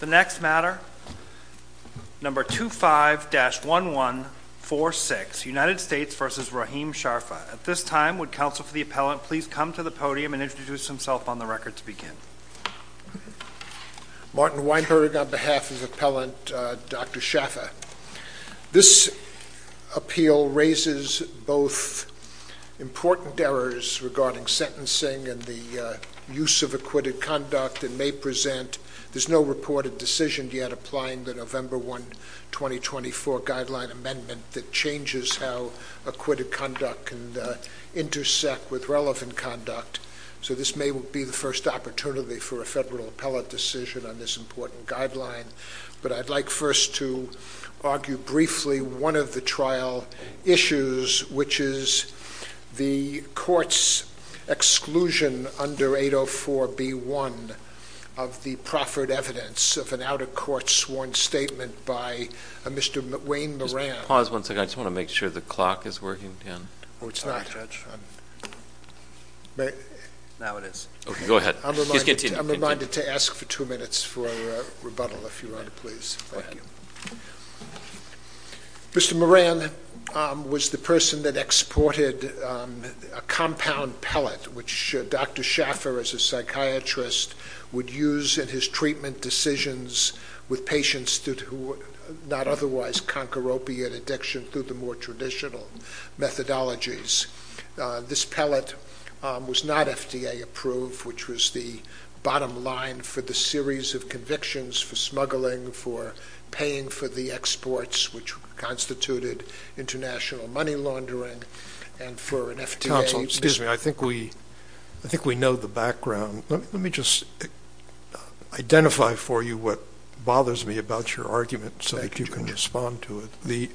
The next matter number 25-1146 United States v. Rahim Shafa. At this time would counsel for the appellant please come to the podium and introduce himself on the record to begin. Martin Weinberg on behalf of appellant Dr. Shafa. This appeal raises both important errors regarding sentencing and the use of acquitted conduct and may present there's no reported decision yet applying the November 1 2024 guideline amendment that changes how acquitted conduct can intersect with relevant conduct so this may be the first opportunity for a federal appellate decision on this important guideline but I'd like first to argue briefly one of the trial issues which is the courts exclusion under 804 b1 of the proffered evidence of an out-of-court sworn statement by a Mr. Wayne Moran. Pause once again I just want to make sure the clock is working again. Oh it's not. Now it is. Okay go ahead. I'm reminded to ask for two minutes for rebuttal if you want to please. Thank you. Mr. Moran was the person that exported a compound pellet which Dr. Shaffer as a psychiatrist would use in his treatment decisions with patients who would not otherwise conquer opiate addiction through the more traditional methodologies. This pellet was not FDA approved which was the bottom line for the series of convictions for smuggling for paying for the exports which constituted international money laundering and for an FDA. Counsel excuse me I think we I think we know the background let me just identify for you what bothers me about your argument so that you can respond to it.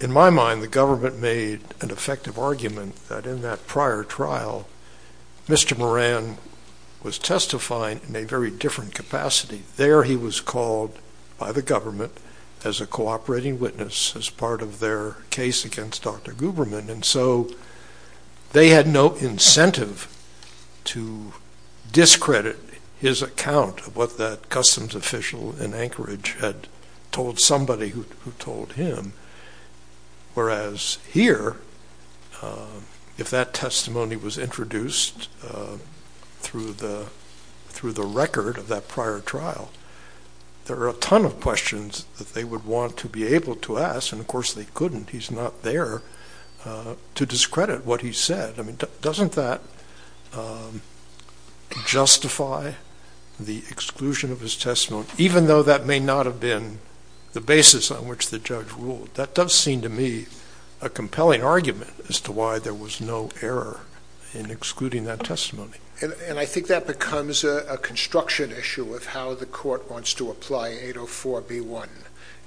In my mind the government made an effective argument that in that prior trial Mr. Moran was testifying in a very different capacity. There he was called by the government as a cooperating witness as part of their case against Dr. Guberman and so they had no incentive to discredit his account of what that customs official in Anchorage had told somebody who told him. Whereas here if that testimony was introduced through the record of that prior trial there are a ton of questions that they would want to be able to ask and of course they couldn't he's not there to discredit what he said I mean doesn't that justify the exclusion of his testimony even though that may not have been the basis on which the judge ruled that does seem to me a compelling argument as to why there was no error in excluding that testimony. And I think that becomes a construction issue of how the court wants to apply 804 b1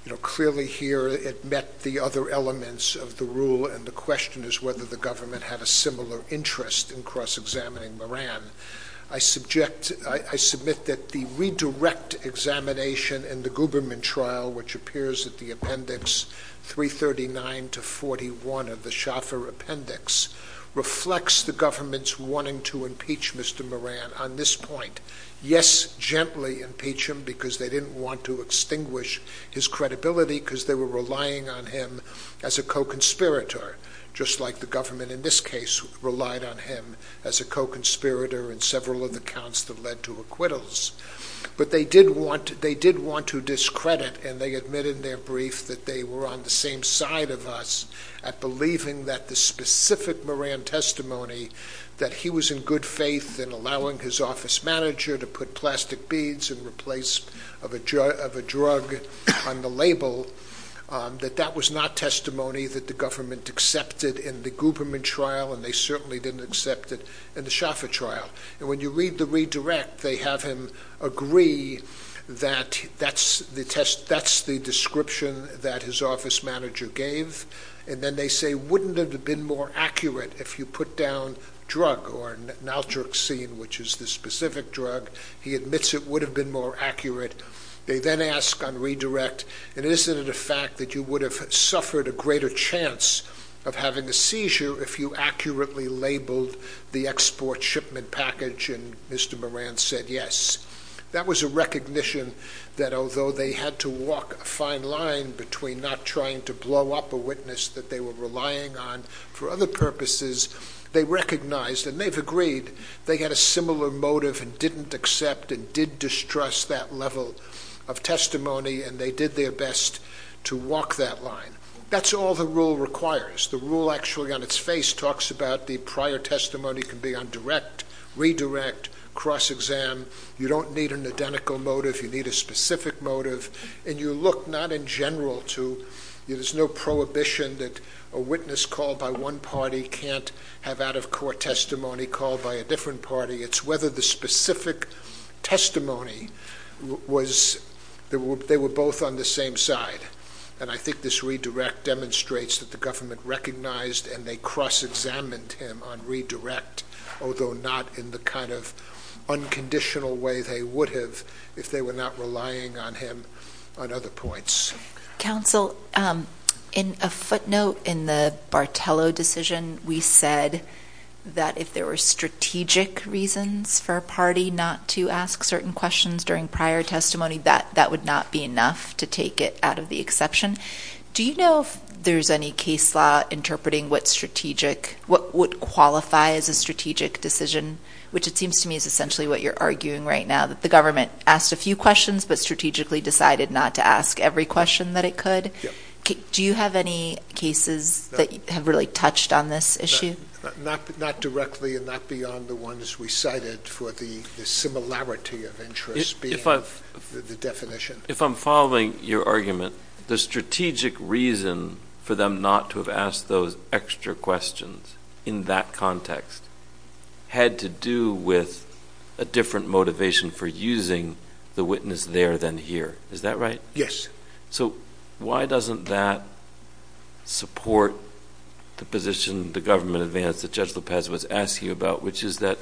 you know clearly here it met the other elements of the rule and the question is whether the government had a similar interest in cross-examining Moran. I subject I submit that the redirect examination and the Guberman trial which appears at the appendix 339 to 41 of the Shaffer appendix reflects the government's wanting to impeach Mr. Moran on this point yes gently impeach him because they didn't want to extinguish his credibility because they were relying on him as a co-conspirator just like the government in this case relied on him as a co-conspirator in several of the counts that led to acquittals. But they did want they did want to discredit and they admitted in their brief that they were on the same side of us at believing that the specific Moran testimony that he was in good faith in allowing his office manager to put plastic beads and replace of a jar of a drug on the label that that was not testimony that the government accepted in the Guberman trial and they certainly didn't accept it in the Shaffer trial and when you read the redirect they have him agree that that's the test that's the description that his office manager gave and then they say wouldn't it have been more accurate if you put down drug or naltrexine which is the specific drug he admits it would have been more accurate they then ask on redirect and isn't it a fact that you would have suffered a greater chance of having a seizure if you accurately labeled the export shipment package and Mr. Moran said yes that was a recognition that although they had to walk a fine line between not trying to blow up a witness that they were relying on for other purposes they recognized and they've agreed they had a similar motive and didn't accept and did distrust that level of testimony and they did their best to walk that line that's all the rule requires the rule actually on its face talks about the prior testimony can be on direct redirect cross-exam you don't need an identical motive you need a specific motive and you look not in general to there's no prohibition that a witness called by one party can't have out-of- court testimony called by a different party it's whether the specific testimony was they were both on the same side and I think this redirect demonstrates that the government recognized and they cross-examined him on redirect although not in the kind of unconditional way they would have if they were not relying on him on other points counsel in a footnote in the Bartello decision we said that if there were strategic reasons for a party not to ask certain questions during prior testimony that that would not be enough to take it out of the exception do you know if there's any case law interpreting what strategic what would qualify as a strategic decision which it seems to me is essentially what you're arguing right now that the government asked a few questions but strategically decided not to ask every question that it could do you have any cases that have really touched on this issue not not directly and not beyond the ones we cited for the similarity of interest if I've the definition if I'm following your argument the strategic reason for them not to have asked those extra questions in that context had to do with a different motivation for using the witness there than here is that right yes so why doesn't that support the position the government advance that judge Lopez was asked you about which is that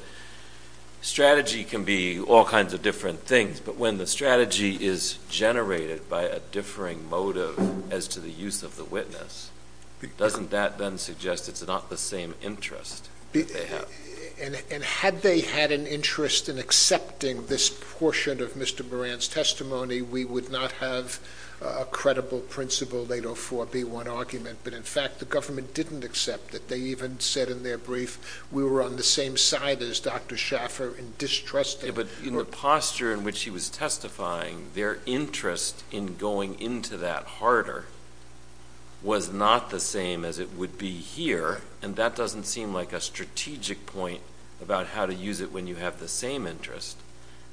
strategy can be all kinds of things but when the strategy is generated by a differing motive as to the use of the witness doesn't that then suggest it's not the same interest and had they had an interest in accepting this portion of mr. Moran's testimony we would not have a credible principle they don't for be one argument but in fact the government didn't accept that they even said in their brief we were on the side as dr. Schaffer and distrust it but in the posture in which he was testifying their interest in going into that harder was not the same as it would be here and that doesn't seem like a strategic point about how to use it when you have the same interest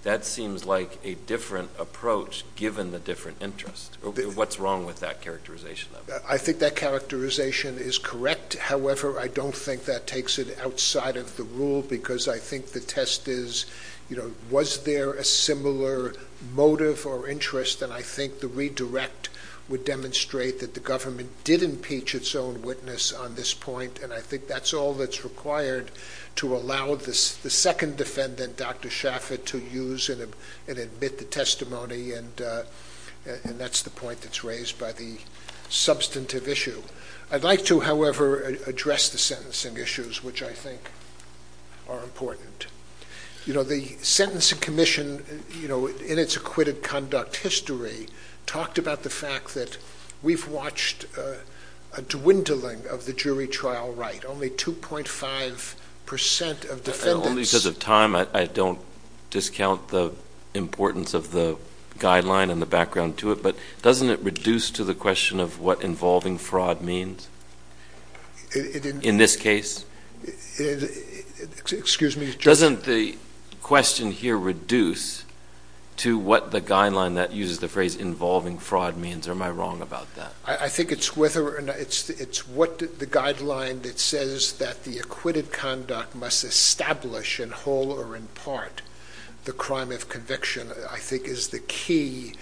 that seems like a different approach given the different interest what's wrong with that characterization I think that characterization is correct however I don't think that takes it outside of the rule because I think the test is you know was there a similar motive or interest and I think the redirect would demonstrate that the government did impeach its own witness on this point and I think that's all that's required to allow this the second defendant dr. Schaffer to use it and admit the testimony and and that's the point that's raised by the substantive issue I'd like to however address the sentencing issues which I think are important you know the Sentencing Commission you know in its acquitted conduct history talked about the fact that we've watched a dwindling of the jury trial right only 2.5 percent of defendants of time I don't discount the importance of the guideline and the background to it but doesn't it reduce to the question of what involving fraud means in this case excuse me doesn't the question here reduce to what the guideline that uses the phrase involving fraud means am I wrong about that I think it's whether or not it's it's what the guideline that says that the acquitted conduct must establish in whole or in part the crime of conviction I think is the key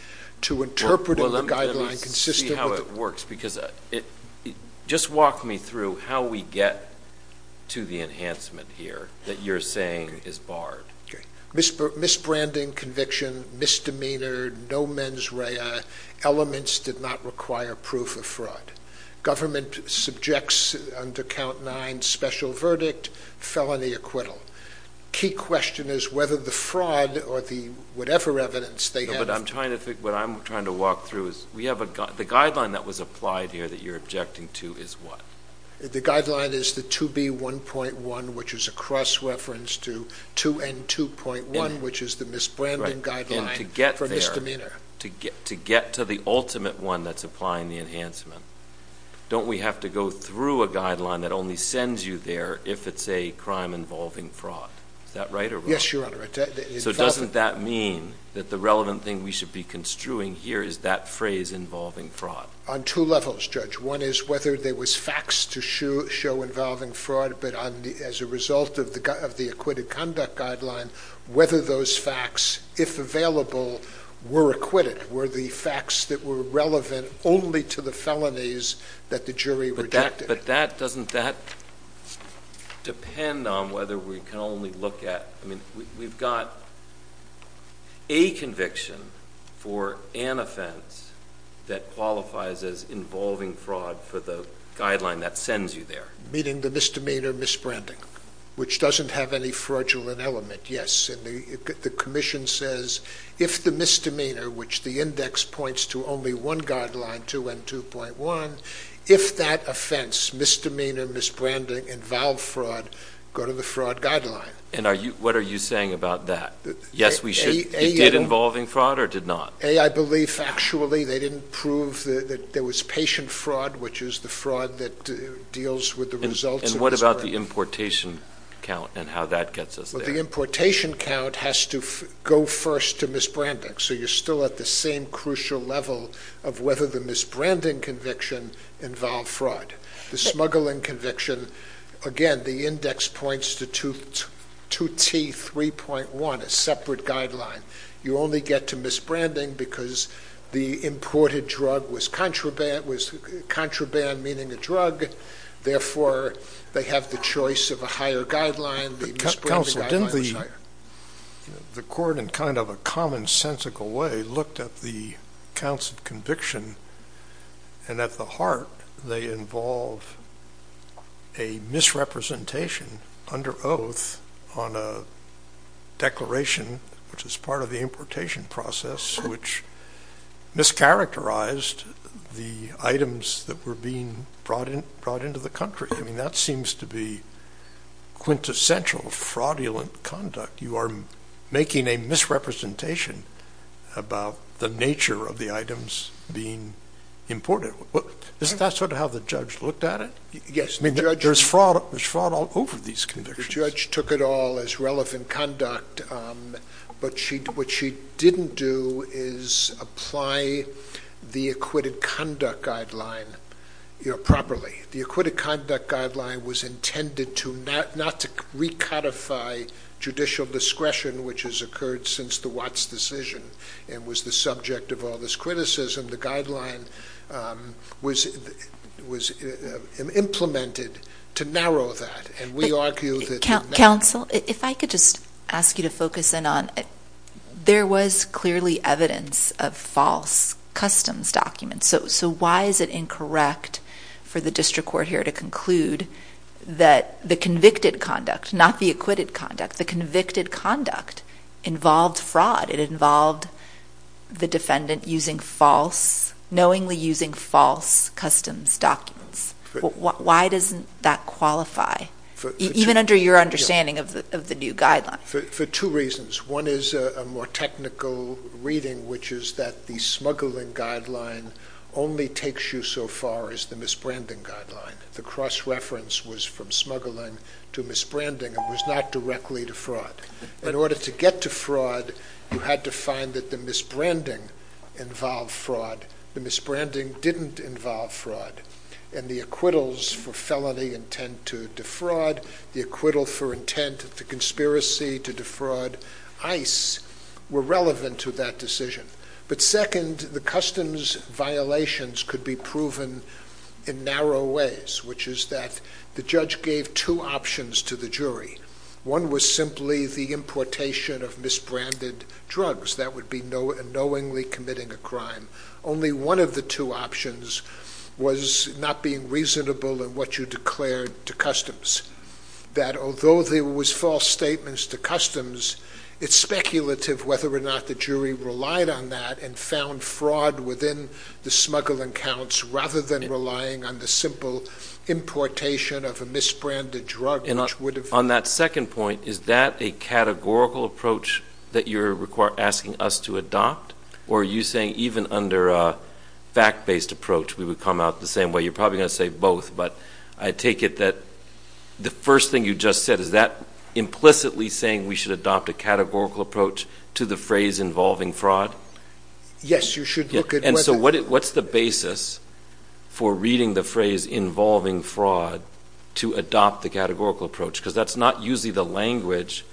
to interpret a guideline consistent how it works because it just walked me through how we get to the enhancement here that you're saying is barred miss miss branding conviction misdemeanor no mens rea elements did not require proof of fraud government subjects under count nine special verdict felony acquittal key question is whether the fraud or the whatever evidence they have but I'm trying to walk through is we have a guideline that was applied here that you're objecting to is what the guideline is the 2b 1.1 which is a cross-reference to 2 and 2.1 which is the misbranding guideline to get for misdemeanor to get to get to the ultimate one that's applying the enhancement don't we have to go through a guideline that only sends you there if it's a crime involving fraud that writer yes your honor so doesn't that mean that the relevant thing we should be construing here is that phrase involving fraud on two levels judge one is whether there was facts to show show involving fraud but on the as a result of the guy of the acquitted conduct guideline whether those facts if available were acquitted were the facts that were relevant only to the felonies that the jury rejected but that doesn't that depend on whether we can only look at I mean we've got a conviction for an offense that qualifies as involving fraud for the guideline that sends you there meeting the misdemeanor misbranding which doesn't have any fraudulent element yes and the Commission says if the misdemeanor which the index points to only one guideline to and 2.1 if that offense misdemeanor misbranding involve fraud go to the fraud guideline and are you what are you saying about that yes we should get involving fraud or did not a I believe actually they didn't prove that there was patient fraud which is the fraud that deals with the results and what about the importation count and how that gets us the importation count has to go first to misbranding so you're still at the same crucial level of whether the misbranding conviction involve fraud the smuggling conviction again the index points to tooth 2t 3.1 a separate guideline you only get to misbranding because the imported drug was contraband was contraband meaning a drug therefore they have the choice of a higher guideline the council didn't leave the court in kind of a commonsensical way looked at the council conviction and at the heart they involve a misrepresentation under oath on a declaration which is part of the importation process which mischaracterized the items that were being brought in brought into the country I mean that seems to be quintessential fraudulent conduct you are making a misrepresentation about the nature of the items being imported what is that sort of how the judge looked at it yes there's fraud was fraud all over these convictions judge took it all as relevant conduct but she what she didn't do is apply the acquitted conduct guideline you know properly the acquitted conduct guideline was intended to not not to recodify judicial discretion which has occurred since the Watts decision and was the subject of all this criticism the guideline was was implemented to narrow that and we argue that council if I could just ask you to focus in on there was clearly evidence of false customs documents so why is it incorrect for the district court here to conclude that the convicted conduct not the acquitted conduct the convicted conduct involved fraud it involved the defendant using false knowingly using false customs documents why doesn't that qualify even under your understanding of the new guideline for two reasons one is a more technical reading which is that the smuggling guideline only takes you so far as the misbranding guideline the cross-reference was from smuggling to misbranding it was not directly to fraud in order to get to fraud you had to find that the misbranding involved fraud the misbranding didn't involve fraud and the acquittals for felony intent to defraud the acquittal for intent of the conspiracy to defraud ice were relevant to that decision but second the customs violations could be proven in narrow ways which is that the judge gave two options to the jury one was simply the importation of misbranded drugs that would be no and knowingly committing a crime only one of the two options was not being reasonable and what you declared to customs that although there was false statements to customs it's speculative whether or not the jury relied on that and found fraud within the smuggling counts rather than relying on the simple importation of a misbranded drug you know on that second point is that a categorical approach that you require asking us to adopt or are you saying even under a fact-based approach we would come out the same way you're probably gonna say both but I take it that the first thing you just said is that implicitly saying we should adopt a categorical approach to the phrase involving fraud yes you should look at and so what it what's the basis for reading the phrase involving fraud to adopt the categorical approach because that's not usually the language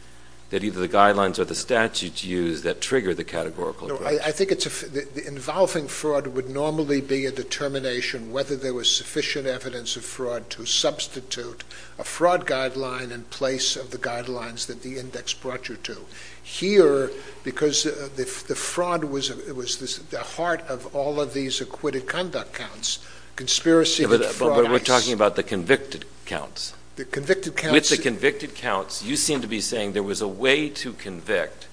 that either the guidelines or the statutes use that trigger the categorical I think it's a involving fraud would normally be a determination whether there was sufficient evidence of fraud to substitute a fraud guideline in the guidelines that the index brought you to here because the fraud was it was this the heart of all of these acquitted conduct counts conspiracy but we're talking about the convicted counts the convicted counts it's a convicted counts you seem to be saying there was a way to convict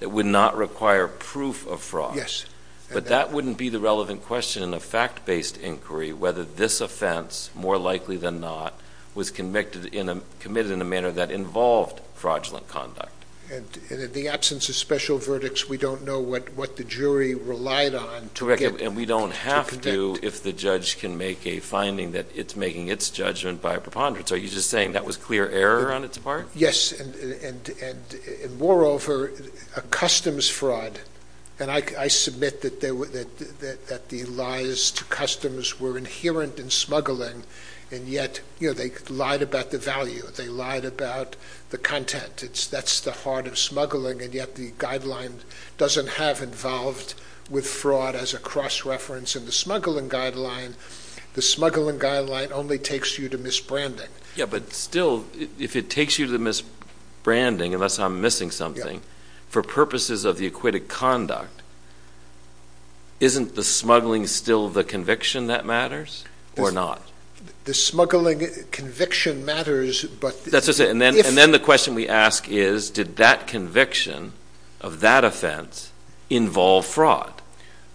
that would not require proof of fraud yes but that wouldn't be the relevant question in a fact-based inquiry whether this offense more likely than not was convicted in a manner that involved fraudulent conduct and the absence of special verdicts we don't know what what the jury relied on to record and we don't have to do if the judge can make a finding that it's making its judgment by a preponderance are you just saying that was clear error on its part yes and moreover a customs fraud and I submit that there were that the lies to customs were inherent in smuggling and yet you know they lied about the value they lied about the content it's that's the heart of smuggling and yet the guideline doesn't have involved with fraud as a cross-reference in the smuggling guideline the smuggling guideline only takes you to miss branding yeah but still if it takes you to miss branding unless I'm missing something for purposes of the acquitted conduct isn't the smuggling still the conviction that matters or not the smuggling conviction matters but that's just it and then and then the question we ask is did that conviction of that offense involve fraud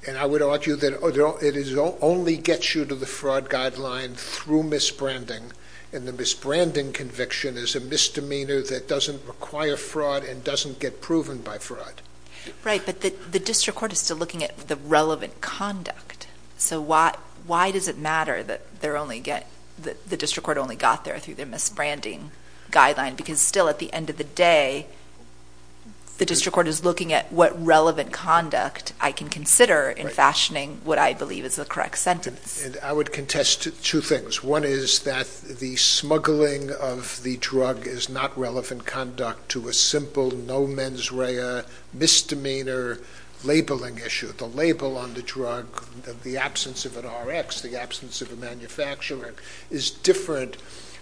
and I would argue that although it is only gets you to the fraud guideline through miss branding and the miss branding conviction is a misdemeanor that doesn't require fraud and doesn't get proven by fraud right but the the does it matter that they're only get the district court only got there through their miss branding guideline because still at the end of the day the district court is looking at what relevant conduct I can consider in fashioning what I believe is the correct sentence and I would contest two things one is that the smuggling of the drug is not relevant conduct to a simple no mens rea misdemeanor labeling issue the label on the drug the absence of an Rx the absence of a manufacturer is different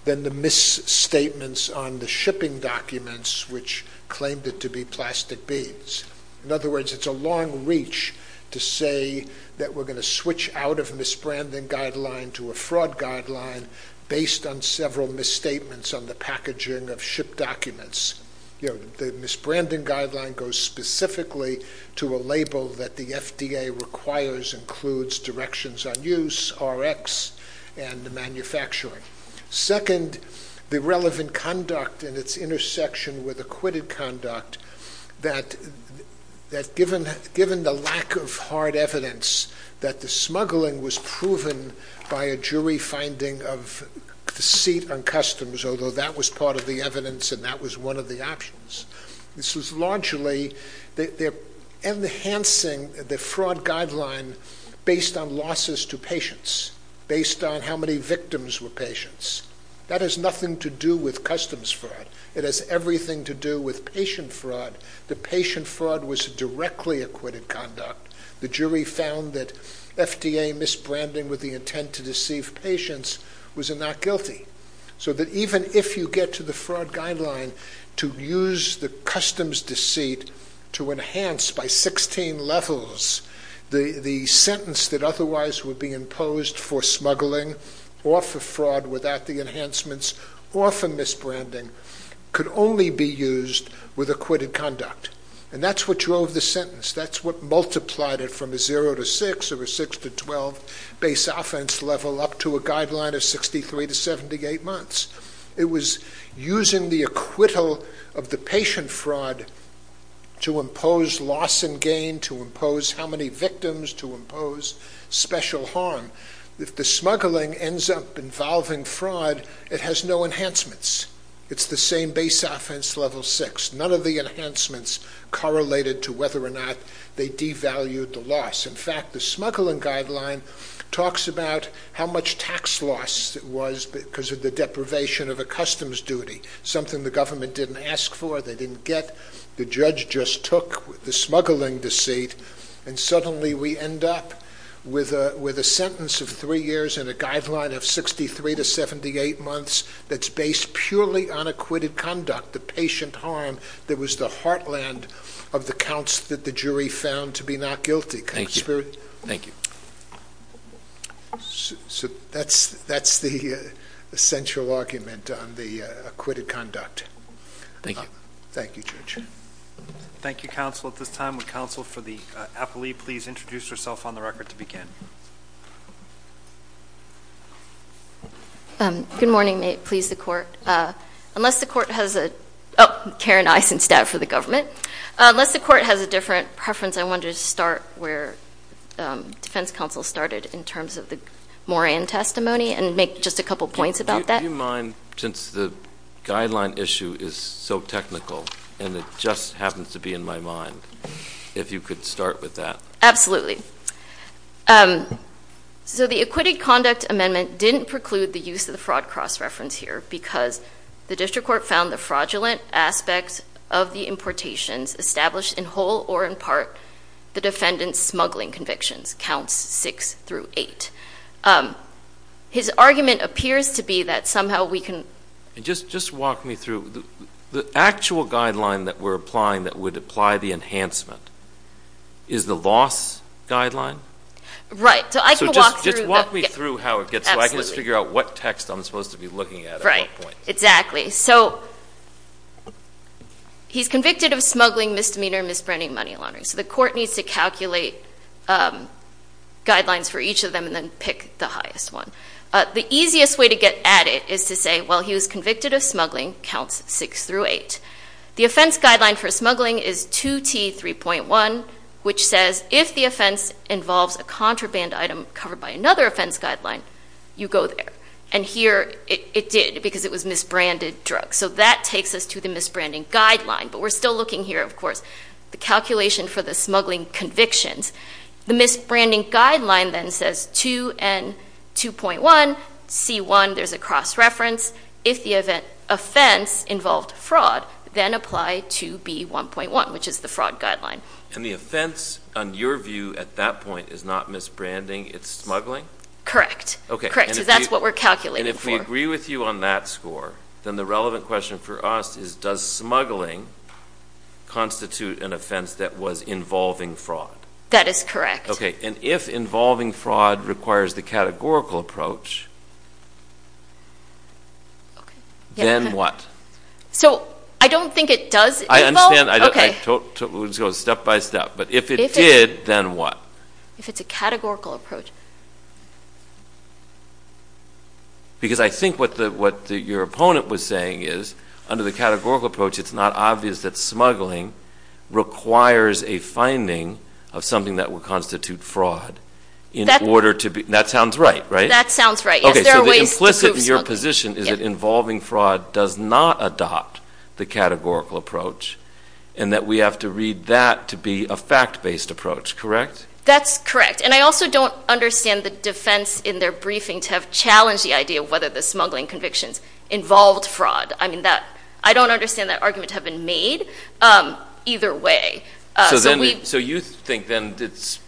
than the miss statements on the shipping documents which claimed it to be plastic beads in other words it's a long reach to say that we're going to switch out of miss branding guideline to a fraud guideline based on several misstatements on the packaging of ship documents you know the miss branding guideline goes specifically to a label that the FDA requires includes directions on use Rx and the manufacturing second the relevant conduct and its intersection with acquitted conduct that that given given the lack of hard evidence that the smuggling was proven by a jury finding of the seat on customs although that was part of the evidence and that was one of the options this was largely that they're enhancing the fraud guideline based on losses to patients based on how many victims were patients that has nothing to do with customs fraud it has everything to do with patient fraud the patient fraud was directly acquitted conduct the jury found that FDA miss branding with the intent to deceive patients was a not guilty so that even if you get to the fraud guideline to use the customs deceit to enhance by 16 levels the sentence that otherwise would be imposed for smuggling or for fraud without the enhancements or for miss branding could only be used with acquitted conduct and that's what drove the sentence that's what multiplied it from a 0 to 6 or a 6 to 12 base offense level up to a guideline of 63 to 78 months it was using the acquittal of the patient fraud to impose loss and gain to impose how many victims to impose special harm if the smuggling ends up involving fraud it has no enhancements it's the same base offense level six none of the enhancements correlated to whether or not they devalue the loss in fact the smuggling guideline talks about how much tax loss it was because of the deprivation of a customs duty something the government didn't ask for they didn't get the judge just took the smuggling deceit and suddenly we end up with a with a sentence of three years in a guideline of 63 to 78 months that's based purely on acquitted conduct the patient harm that was the heartland of the counts that the jury found to be not guilty thank you thank you so that's that's the essential argument on the acquitted conduct thank you thank you church thank you counsel at this time with counsel for the appellee please introduce yourself on the record to begin good morning may it please the court unless the court has a Karen eyes instead for the government unless the court has a different preference I wanted to start where defense counsel started in terms of the Moran testimony and make just a couple points about that you mind since the guideline issue is so technical and it just happens to be in my mind if you could start with that absolutely so the acquitted conduct amendment didn't preclude the use of the fraud cross-reference here because the district court found the fraudulent aspects of the importations established in whole or in part the defendants smuggling convictions counts six through eight his argument appears to be that somehow we can just just walk me through the actual guideline that we're applying that would apply the enhancement is the loss guideline right so I just walk me through how it gets like let's figure out what text I'm supposed to be looking at right exactly so he's convicted of smuggling misdemeanor misbranding money laundering so the court needs to calculate guidelines for each of them and then pick the highest one the easiest way to get at it is to say well he was convicted of smuggling counts six through eight the offense guideline for smuggling is 2t 3.1 which says if the offense involves a contraband item covered by another offense guideline you go there and here it did because it was misbranded drug so that takes us to the misbranding guideline but we're still looking here of course the calculation for the smuggling convictions the misbranding guideline then says 2 and 2.1 c1 there's a cross-reference if the event offense involved fraud then apply to be 1.1 which is the fraud guideline and the offense on your view at that point is not misbranding it's smuggling correct okay correct so that's what we're calculating if we agree with you on that score then the relevant question for us is does smuggling constitute an offense that was involving fraud that is correct okay and if involving fraud requires the categorical approach then what so I don't think it does I understand I don't go step by step but if it did then what if it's a categorical approach because I think what the what your opponent was saying is under the categorical approach it's not obvious that smuggling requires a finding of something that will constitute fraud in order to be that sounds right right that sounds right okay implicit in your position is it involving fraud does not adopt the categorical approach and that we have to read that to be a fact-based approach correct that's correct and I also don't understand the defense in their briefing to have challenged the idea of whether the smuggling convictions involved fraud I mean that I don't understand that argument have been made either way so then so you think then it's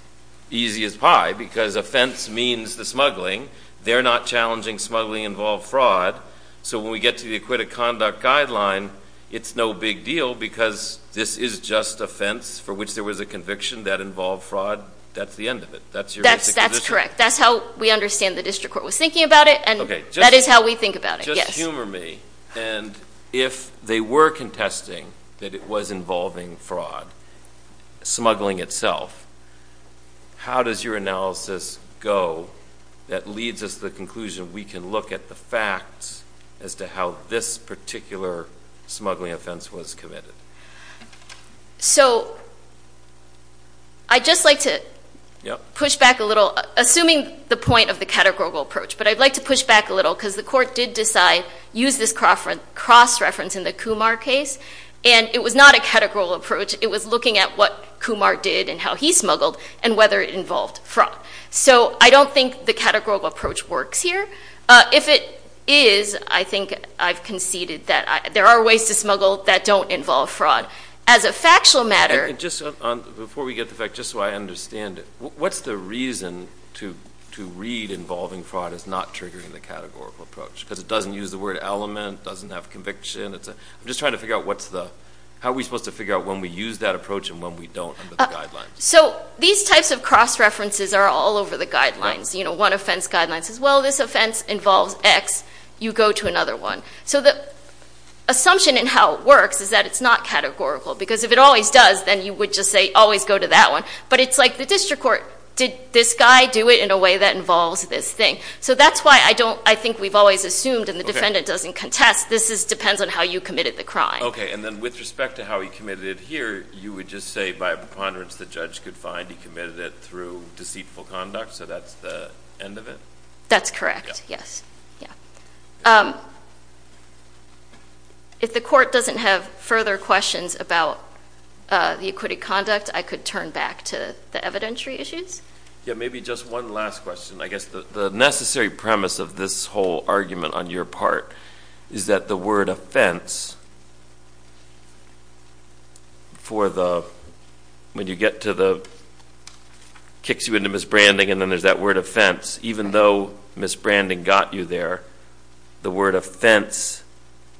easy as pie because offense means the smuggling they're not challenging smuggling involved fraud so when we get to the acquitted conduct guideline it's no big deal because this is just offense for which there was a conviction that involved fraud that's the end of it that's your that's correct that's how we understand the district court was thinking about it and okay that is how we think about humor me and if they were contesting that it was involving fraud smuggling itself how does your analysis go that leads us to the conclusion we can look at the facts as to how this particular smuggling offense was so I just like to push back a little assuming the point of the categorical approach but I'd like to push back a little because the court did decide use this cross reference in the Kumar case and it was not a categorical approach it was looking at what Kumar did and how he smuggled and whether it involved fraud so I don't think the categorical approach works here if it is I think I've conceded that there are ways to smuggle that don't involve fraud as a factual matter just before we get the fact just so I understand it what's the reason to to read involving fraud is not triggering the categorical approach because it doesn't use the word element doesn't have conviction it's a I'm just trying to figure out what's the how are we supposed to figure out when we use that approach and when we don't so these types of cross references are all over the guidelines you know one offense guidelines as well this offense involves X you go to another one so the assumption in how it works is that it's not categorical because if it always does then you would just say always go to that one but it's like the district court did this guy do it in a way that involves this thing so that's why I don't I think we've always assumed and the defendant doesn't contest this is depends on how you committed the crime okay and then with respect to how he committed it here you would just say by preponderance the judge could find he committed it through deceitful conduct so that's the end of it that's correct yes yeah if the court doesn't have further questions about the acquitted conduct I could turn back to the evidentiary issues yeah maybe just one last question I guess the necessary premise of this whole argument on your part is that the word offense for the when you get to the kicks you into miss branding and then there's that word offense even though miss branding got you there the word offense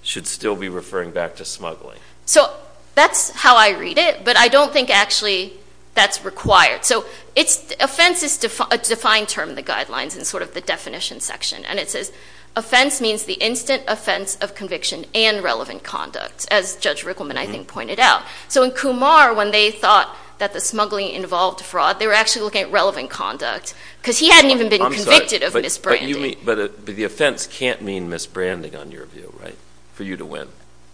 should still be referring back to smuggling so that's how I read it but I don't think actually that's required so it's offense is defined term the guidelines and sort of the definition section and it says offense means the instant offense of conviction and relevant conduct as judge Rickleman I think pointed out so in when they thought that the smuggling involved fraud they were actually looking at relevant conduct because he hadn't even been convicted of this brand but the offense can't mean miss branding on your view right for you to win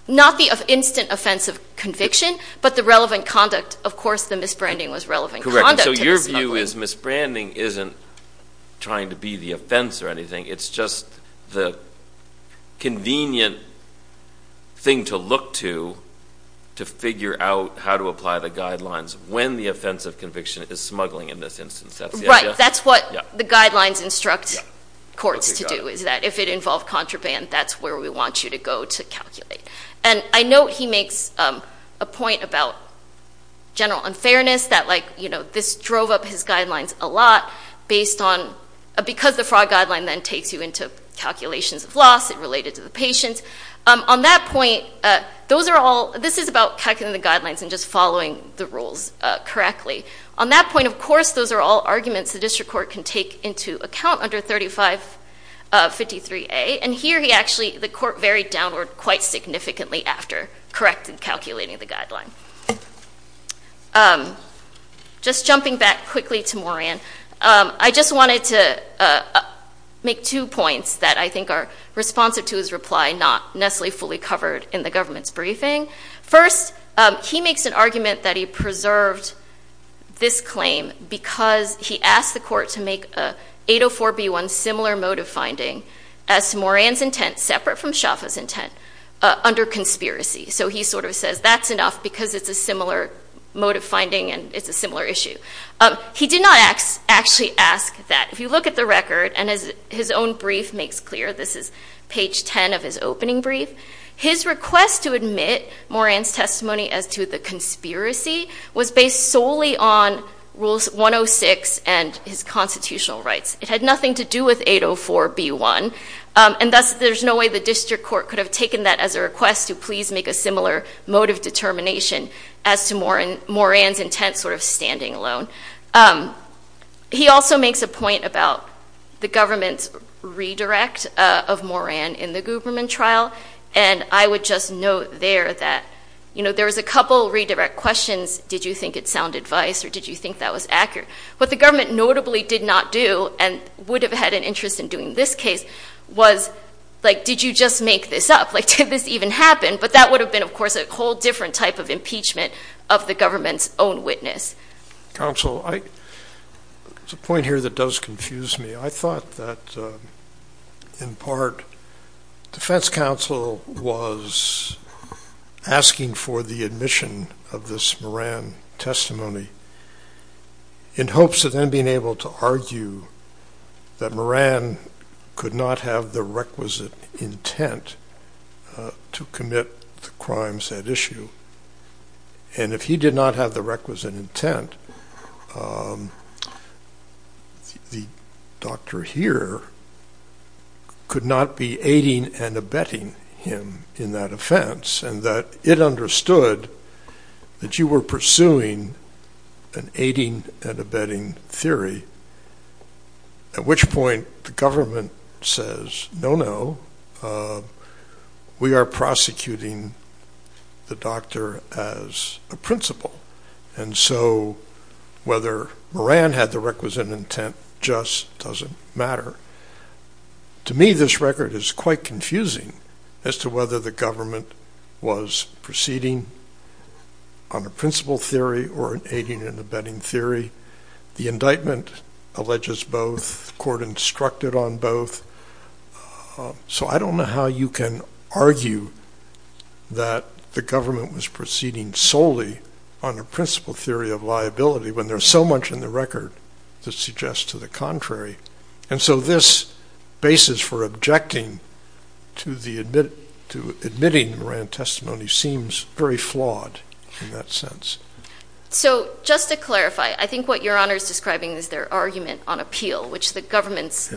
not be of instant offensive conviction but the relevant conduct of course the miss branding was relevant so your view is miss branding isn't trying to be the offense or anything it's just the convenient thing to look to to figure out how to apply the guidelines when the offensive conviction is smuggling in this instance that's right that's what the guidelines instruct courts to do is that if it involved contraband that's where we want you to go to calculate and I know he makes a point about general unfairness that like you know this drove up his guidelines a lot based on because the fraud guideline then takes you into calculations of loss it related to the patients on that point those are all this is about cutting the guidelines and just following the rules correctly on that point of course those are all arguments the district court can take into account under 35 53 a and here he actually the court very downward quite significantly after corrected calculating the guideline just jumping back quickly to Moran I just wanted to make two points that I think are responsive to his reply not Nestle fully covered in the government's briefing first he makes an argument that he preserved this claim because he asked the court to make a 804 b1 similar motive finding as Moran's intent separate from shoppers intent under conspiracy so he sort of says that's enough because it's a similar motive finding and it's a similar issue he did not actually ask that if you look at the record and as his own brief makes clear this is page 10 of his opening brief his request to admit Moran's testimony as to the conspiracy was based solely on rules 106 and his constitutional rights it had nothing to do with 804 b1 and thus there's no way the district court could have taken that as a request to please make a similar motive determination as to more and Moran's intent sort of standing alone he also makes a point about the government's redirect of Moran in the Guberman trial and I would just note there that you know there was a couple redirect questions did you think it sounded vice or did you think that was accurate but the government notably did not do and would have had an interest in doing this case was like did you just make this up like did this even happen but that would have been of course a whole different type of impeachment of the government's own witness. Counsel I there's a point here that does confuse me I thought that in part defense counsel was asking for the admission of this Moran testimony in hopes of then being able to argue that Moran could not have the requisite intent to commit the crimes at issue and if he did not have the requisite intent the doctor here could not be aiding and abetting him in that offense and that it understood that you were pursuing an aiding and abetting theory at which point the government says no no we are prosecuting the doctor as a principal and so whether Moran had the requisite intent just doesn't matter to me this record is quite confusing as to whether the government was proceeding on a principal theory or an aiding and abetting theory the indictment alleges both court instructed on both so I don't know how you can argue that the government was proceeding solely on a principal theory of liability when there's so much in the record that suggests to the contrary and so this basis for objecting to the admit to admitting Moran testimony seems very flawed in that sense so just to clarify I think what your honor is describing is their argument on appeal which the government's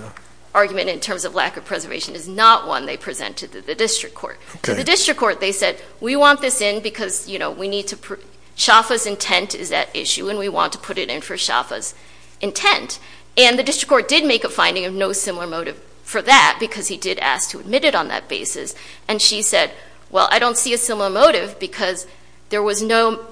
argument in terms of lack of preservation is not one they presented to the district court the district court they said we want this in because you know we need to Shaffer's intent is that issue and we want to put it in for Shaffer's intent and the district court did make a finding of no similar motive for that because he did ask to admit it on that basis and she said well I don't see a similar motive because there was no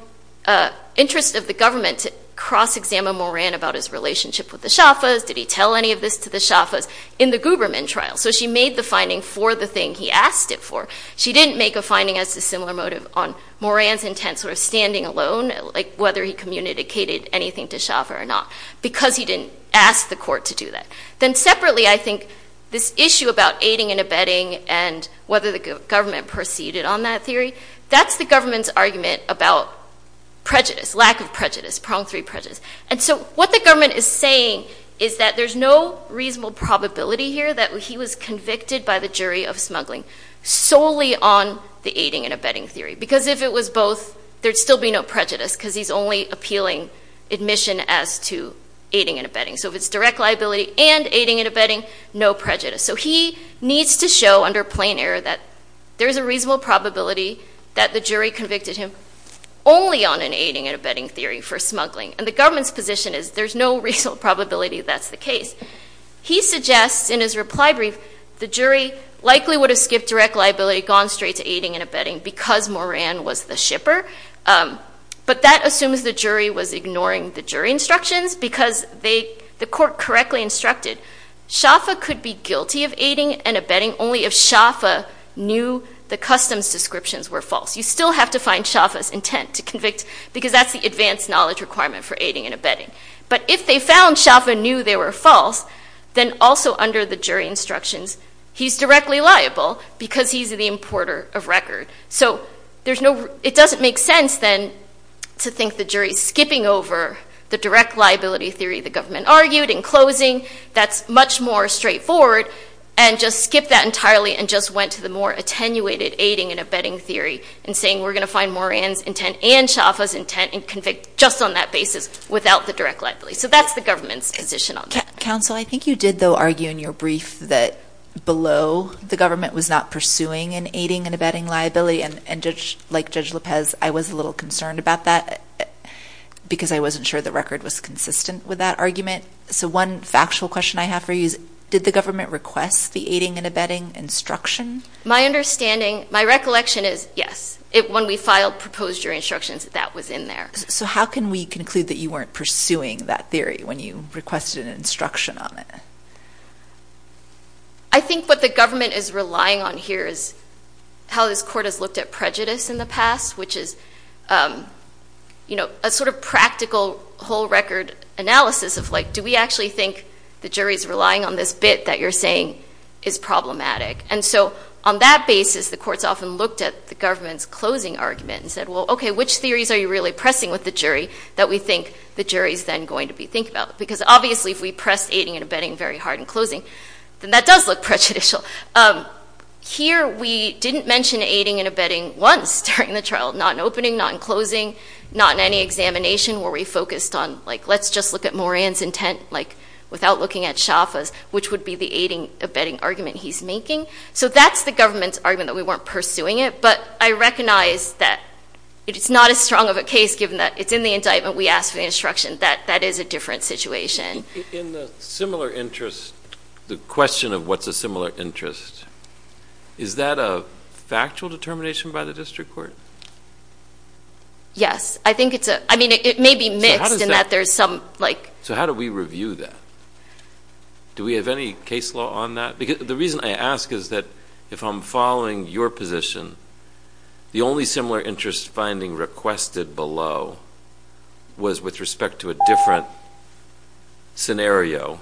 interest of the government to cross-examine Moran about his relationship with the Shaffer's did he tell any of this to the Shaffer's in the Guberman trial so she made the finding for the thing he asked it for she didn't make a finding as to similar motive on Moran's intent sort of standing alone like whether he communicated anything to Shaffer or not because he didn't ask the court to do that then separately I think this issue about aiding and abetting and whether the government proceeded on that theory that's the government's argument about prejudice lack of prejudice prong three prejudice and so what the government is saying is that there's no reasonable probability here that he was convicted by the jury of smuggling solely on the aiding and abetting theory because if it was both there'd still be no prejudice because he's only appealing admission as to aiding and abetting so if it's direct liability and aiding and abetting no prejudice so he needs to show under plain error that there's a reasonable probability that the jury convicted him only on an aiding and abetting theory for smuggling and the government's position is there's no reasonable probability that's the case he suggests in his reply brief the jury likely would have skipped direct liability gone straight to aiding and abetting because Moran was the shipper but that assumes the jury was ignoring the jury instructions because they the court correctly instructed Shaffer could be guilty of aiding and abetting only if Shaffer knew the customs descriptions were false you still have to find Shaffer's intent to convict because that's the advanced knowledge requirement for aiding and abetting but if they found Shaffer knew they were false then also under the jury instructions he's directly liable because he's the importer of record so there's no it doesn't make sense then to think the jury's skipping over the direct liability theory the government argued in closing that's much more straightforward and just skip that entirely and just went to the more attenuated aiding and abetting theory and saying we're gonna find Moran's intent and Shaffer's intent and convict just on that basis without the direct liability so that's the government's position on council I think you did though argue in your brief that below the government was not pursuing an aiding and abetting liability and and just like judge Lopez I was a little concerned about that because I wasn't sure the record was consistent with that argument so one factual question I have did the government request the aiding and abetting instruction my understanding my recollection is yes it when we filed proposed jury instructions that was in there so how can we conclude that you weren't pursuing that theory when you requested an instruction on it I think what the government is relying on here is how this court has looked at prejudice in the past which is you know a sort of practical whole record analysis of like do we actually think the jury's relying on this bit that you're saying is problematic and so on that basis the courts often looked at the government's closing argument and said well okay which theories are you really pressing with the jury that we think the jury's then going to be thinking about because obviously if we press aiding and abetting very hard and closing then that does look prejudicial here we didn't mention aiding and abetting once during the trial not an opening not in closing not in any examination where we focused on like let's just look at Moran's intent like without looking at Shaffer's which would be the aiding abetting argument he's making so that's the government's argument that we weren't pursuing it but I recognize that it's not as strong of a case given that it's in the indictment we asked for the instruction that that is a different situation in the similar interest the question of what's a similar interest is that a factual determination by the district court yes I think it's a I mean it may be mixed in that there's some like so how do we review that do we have any case law on that because the reason I ask is that if I'm following your position the only similar interest finding requested below was with respect to a different scenario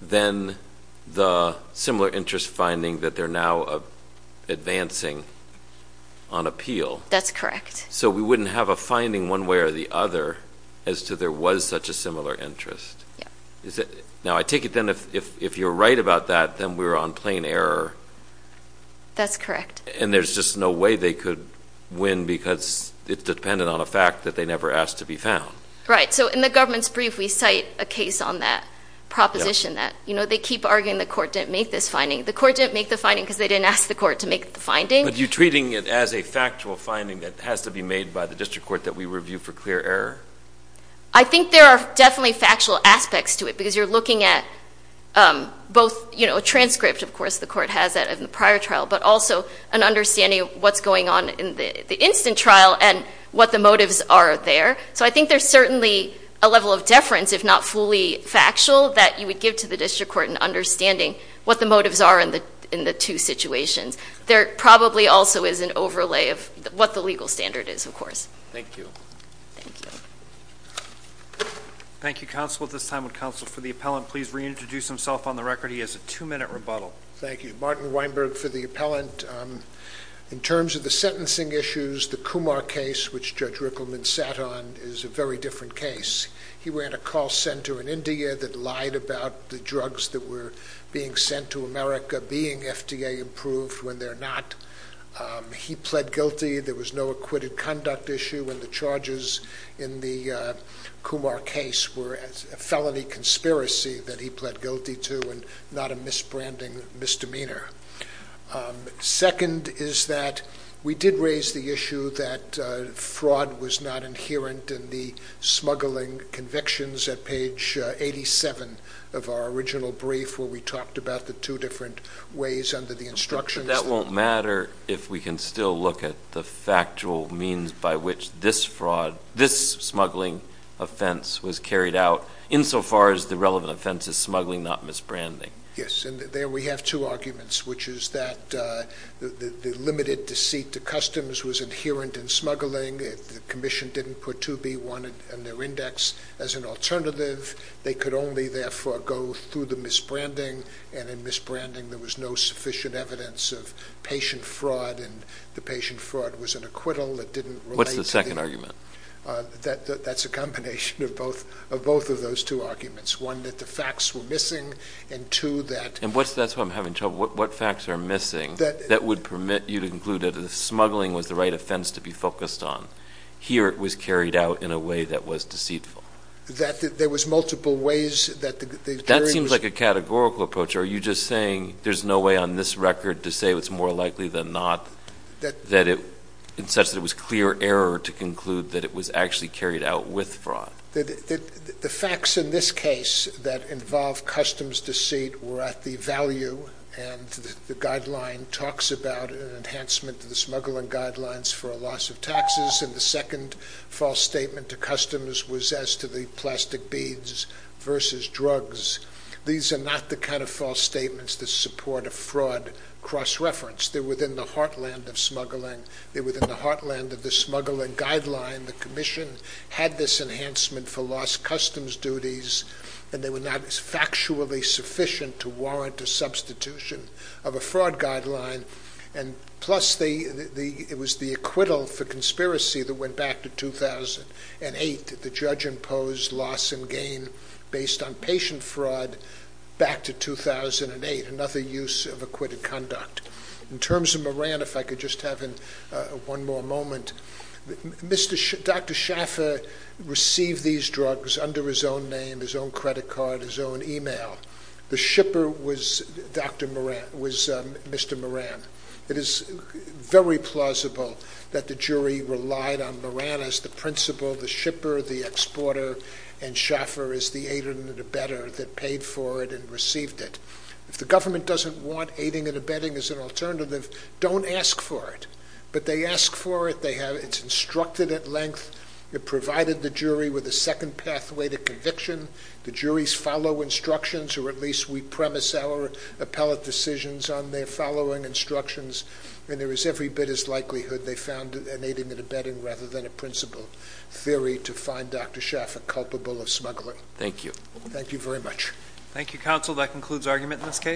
then the similar interest finding that they're now advancing on appeal that's correct so we wouldn't have a finding one way or the other as to there was such a similar interest is it now I take it then if if you're right about that then we were on plain error that's correct and there's just no way they could win because it's dependent on a fact that they never asked to be found right so in the government's brief we cite a case on that proposition that you know they keep arguing the court didn't make this finding the court didn't make the finding because they didn't ask the court to make the finding but you treating it as a factual finding that has to be made by the district court that we review for clear error I think there are definitely factual aspects to it because you're looking at both you know a transcript of course the court has that in the prior trial but also an understanding of what's going on in the instant trial and what the motives are there so I think there's certainly a level of deference if not fully factual that you would give to the district court and understanding what the motives are in the in the two situations there probably also is an overlay of what the legal standard is of course thank you thank you counsel at this time with counsel for the appellant please reintroduce himself on the record he has a two-minute rebuttal thank you Martin Weinberg for the appellant in terms of the sentencing issues the Kumar case which judge Rickleman sat on is a very different case he ran a call center in India that lied about the drugs that were being sent to America being FDA approved when they're not he pled guilty there was no acquitted conduct issue when the charges in the Kumar case were as a felony conspiracy that he pled guilty to and not a misbranding misdemeanor second is that we did raise the issue that fraud was not inherent in the smuggling convictions at page 87 of our original brief where we talked about the two different ways under the instruction that won't matter if we can still look at the factual means by which this fraud this smuggling offense was carried out insofar as the relevant offenses smuggling not misbranding yes and there we have two arguments which is that the limited deceit to customs was inherent in smuggling if the Commission didn't put to be wanted and their index as an alternative they could only therefore go through the misbranding and in misbranding there was no sufficient evidence of patient fraud and the patient fraud was an acquittal that didn't what's the second argument that that's a combination of both of both of those two arguments one that the facts were missing and to that and what's that's what I'm having trouble with what facts are missing that that would permit you to conclude that a smuggling was the right offense to be focused on here it was carried out in a way that was deceitful that there was multiple ways that that seems like a categorical approach are you just saying there's no way on this record to say what's more likely than not that that it it's such that it was clear error to conclude that it was actually carried out with fraud the facts in this case that involve customs deceit were at the value and the guideline talks about an enhancement to the smuggling guidelines for a loss of taxes and the second false statement to customs was as to the plastic beads versus drugs these are not the kind of false statements that support a fraud cross-reference there within the heartland of smuggling there within the enhancement for lost customs duties and they were not as factually sufficient to warrant a substitution of a fraud guideline and plus the the it was the acquittal for conspiracy that went back to 2008 that the judge imposed loss and gain based on patient fraud back to 2008 another use of acquitted conduct in terms of Moran if I could just have in one more moment mr. Dr. Schaffer received these drugs under his own name his own credit card his own email the shipper was dr. Moran was mr. Moran it is very plausible that the jury relied on Moran as the principal the shipper the exporter and Schaffer is the aided and abetted that paid for it and received it if the government doesn't want aiding and abetting as an alternative don't ask for it but they ask for it they have it's instructed at length it provided the jury with a second pathway to conviction the jury's follow instructions or at least we premise our appellate decisions on their following instructions and there is every bit as likelihood they found an aiding and abetting rather than a principal theory to find dr. Schaffer culpable of smuggling thank you thank you very much thank you counsel that concludes argument in this case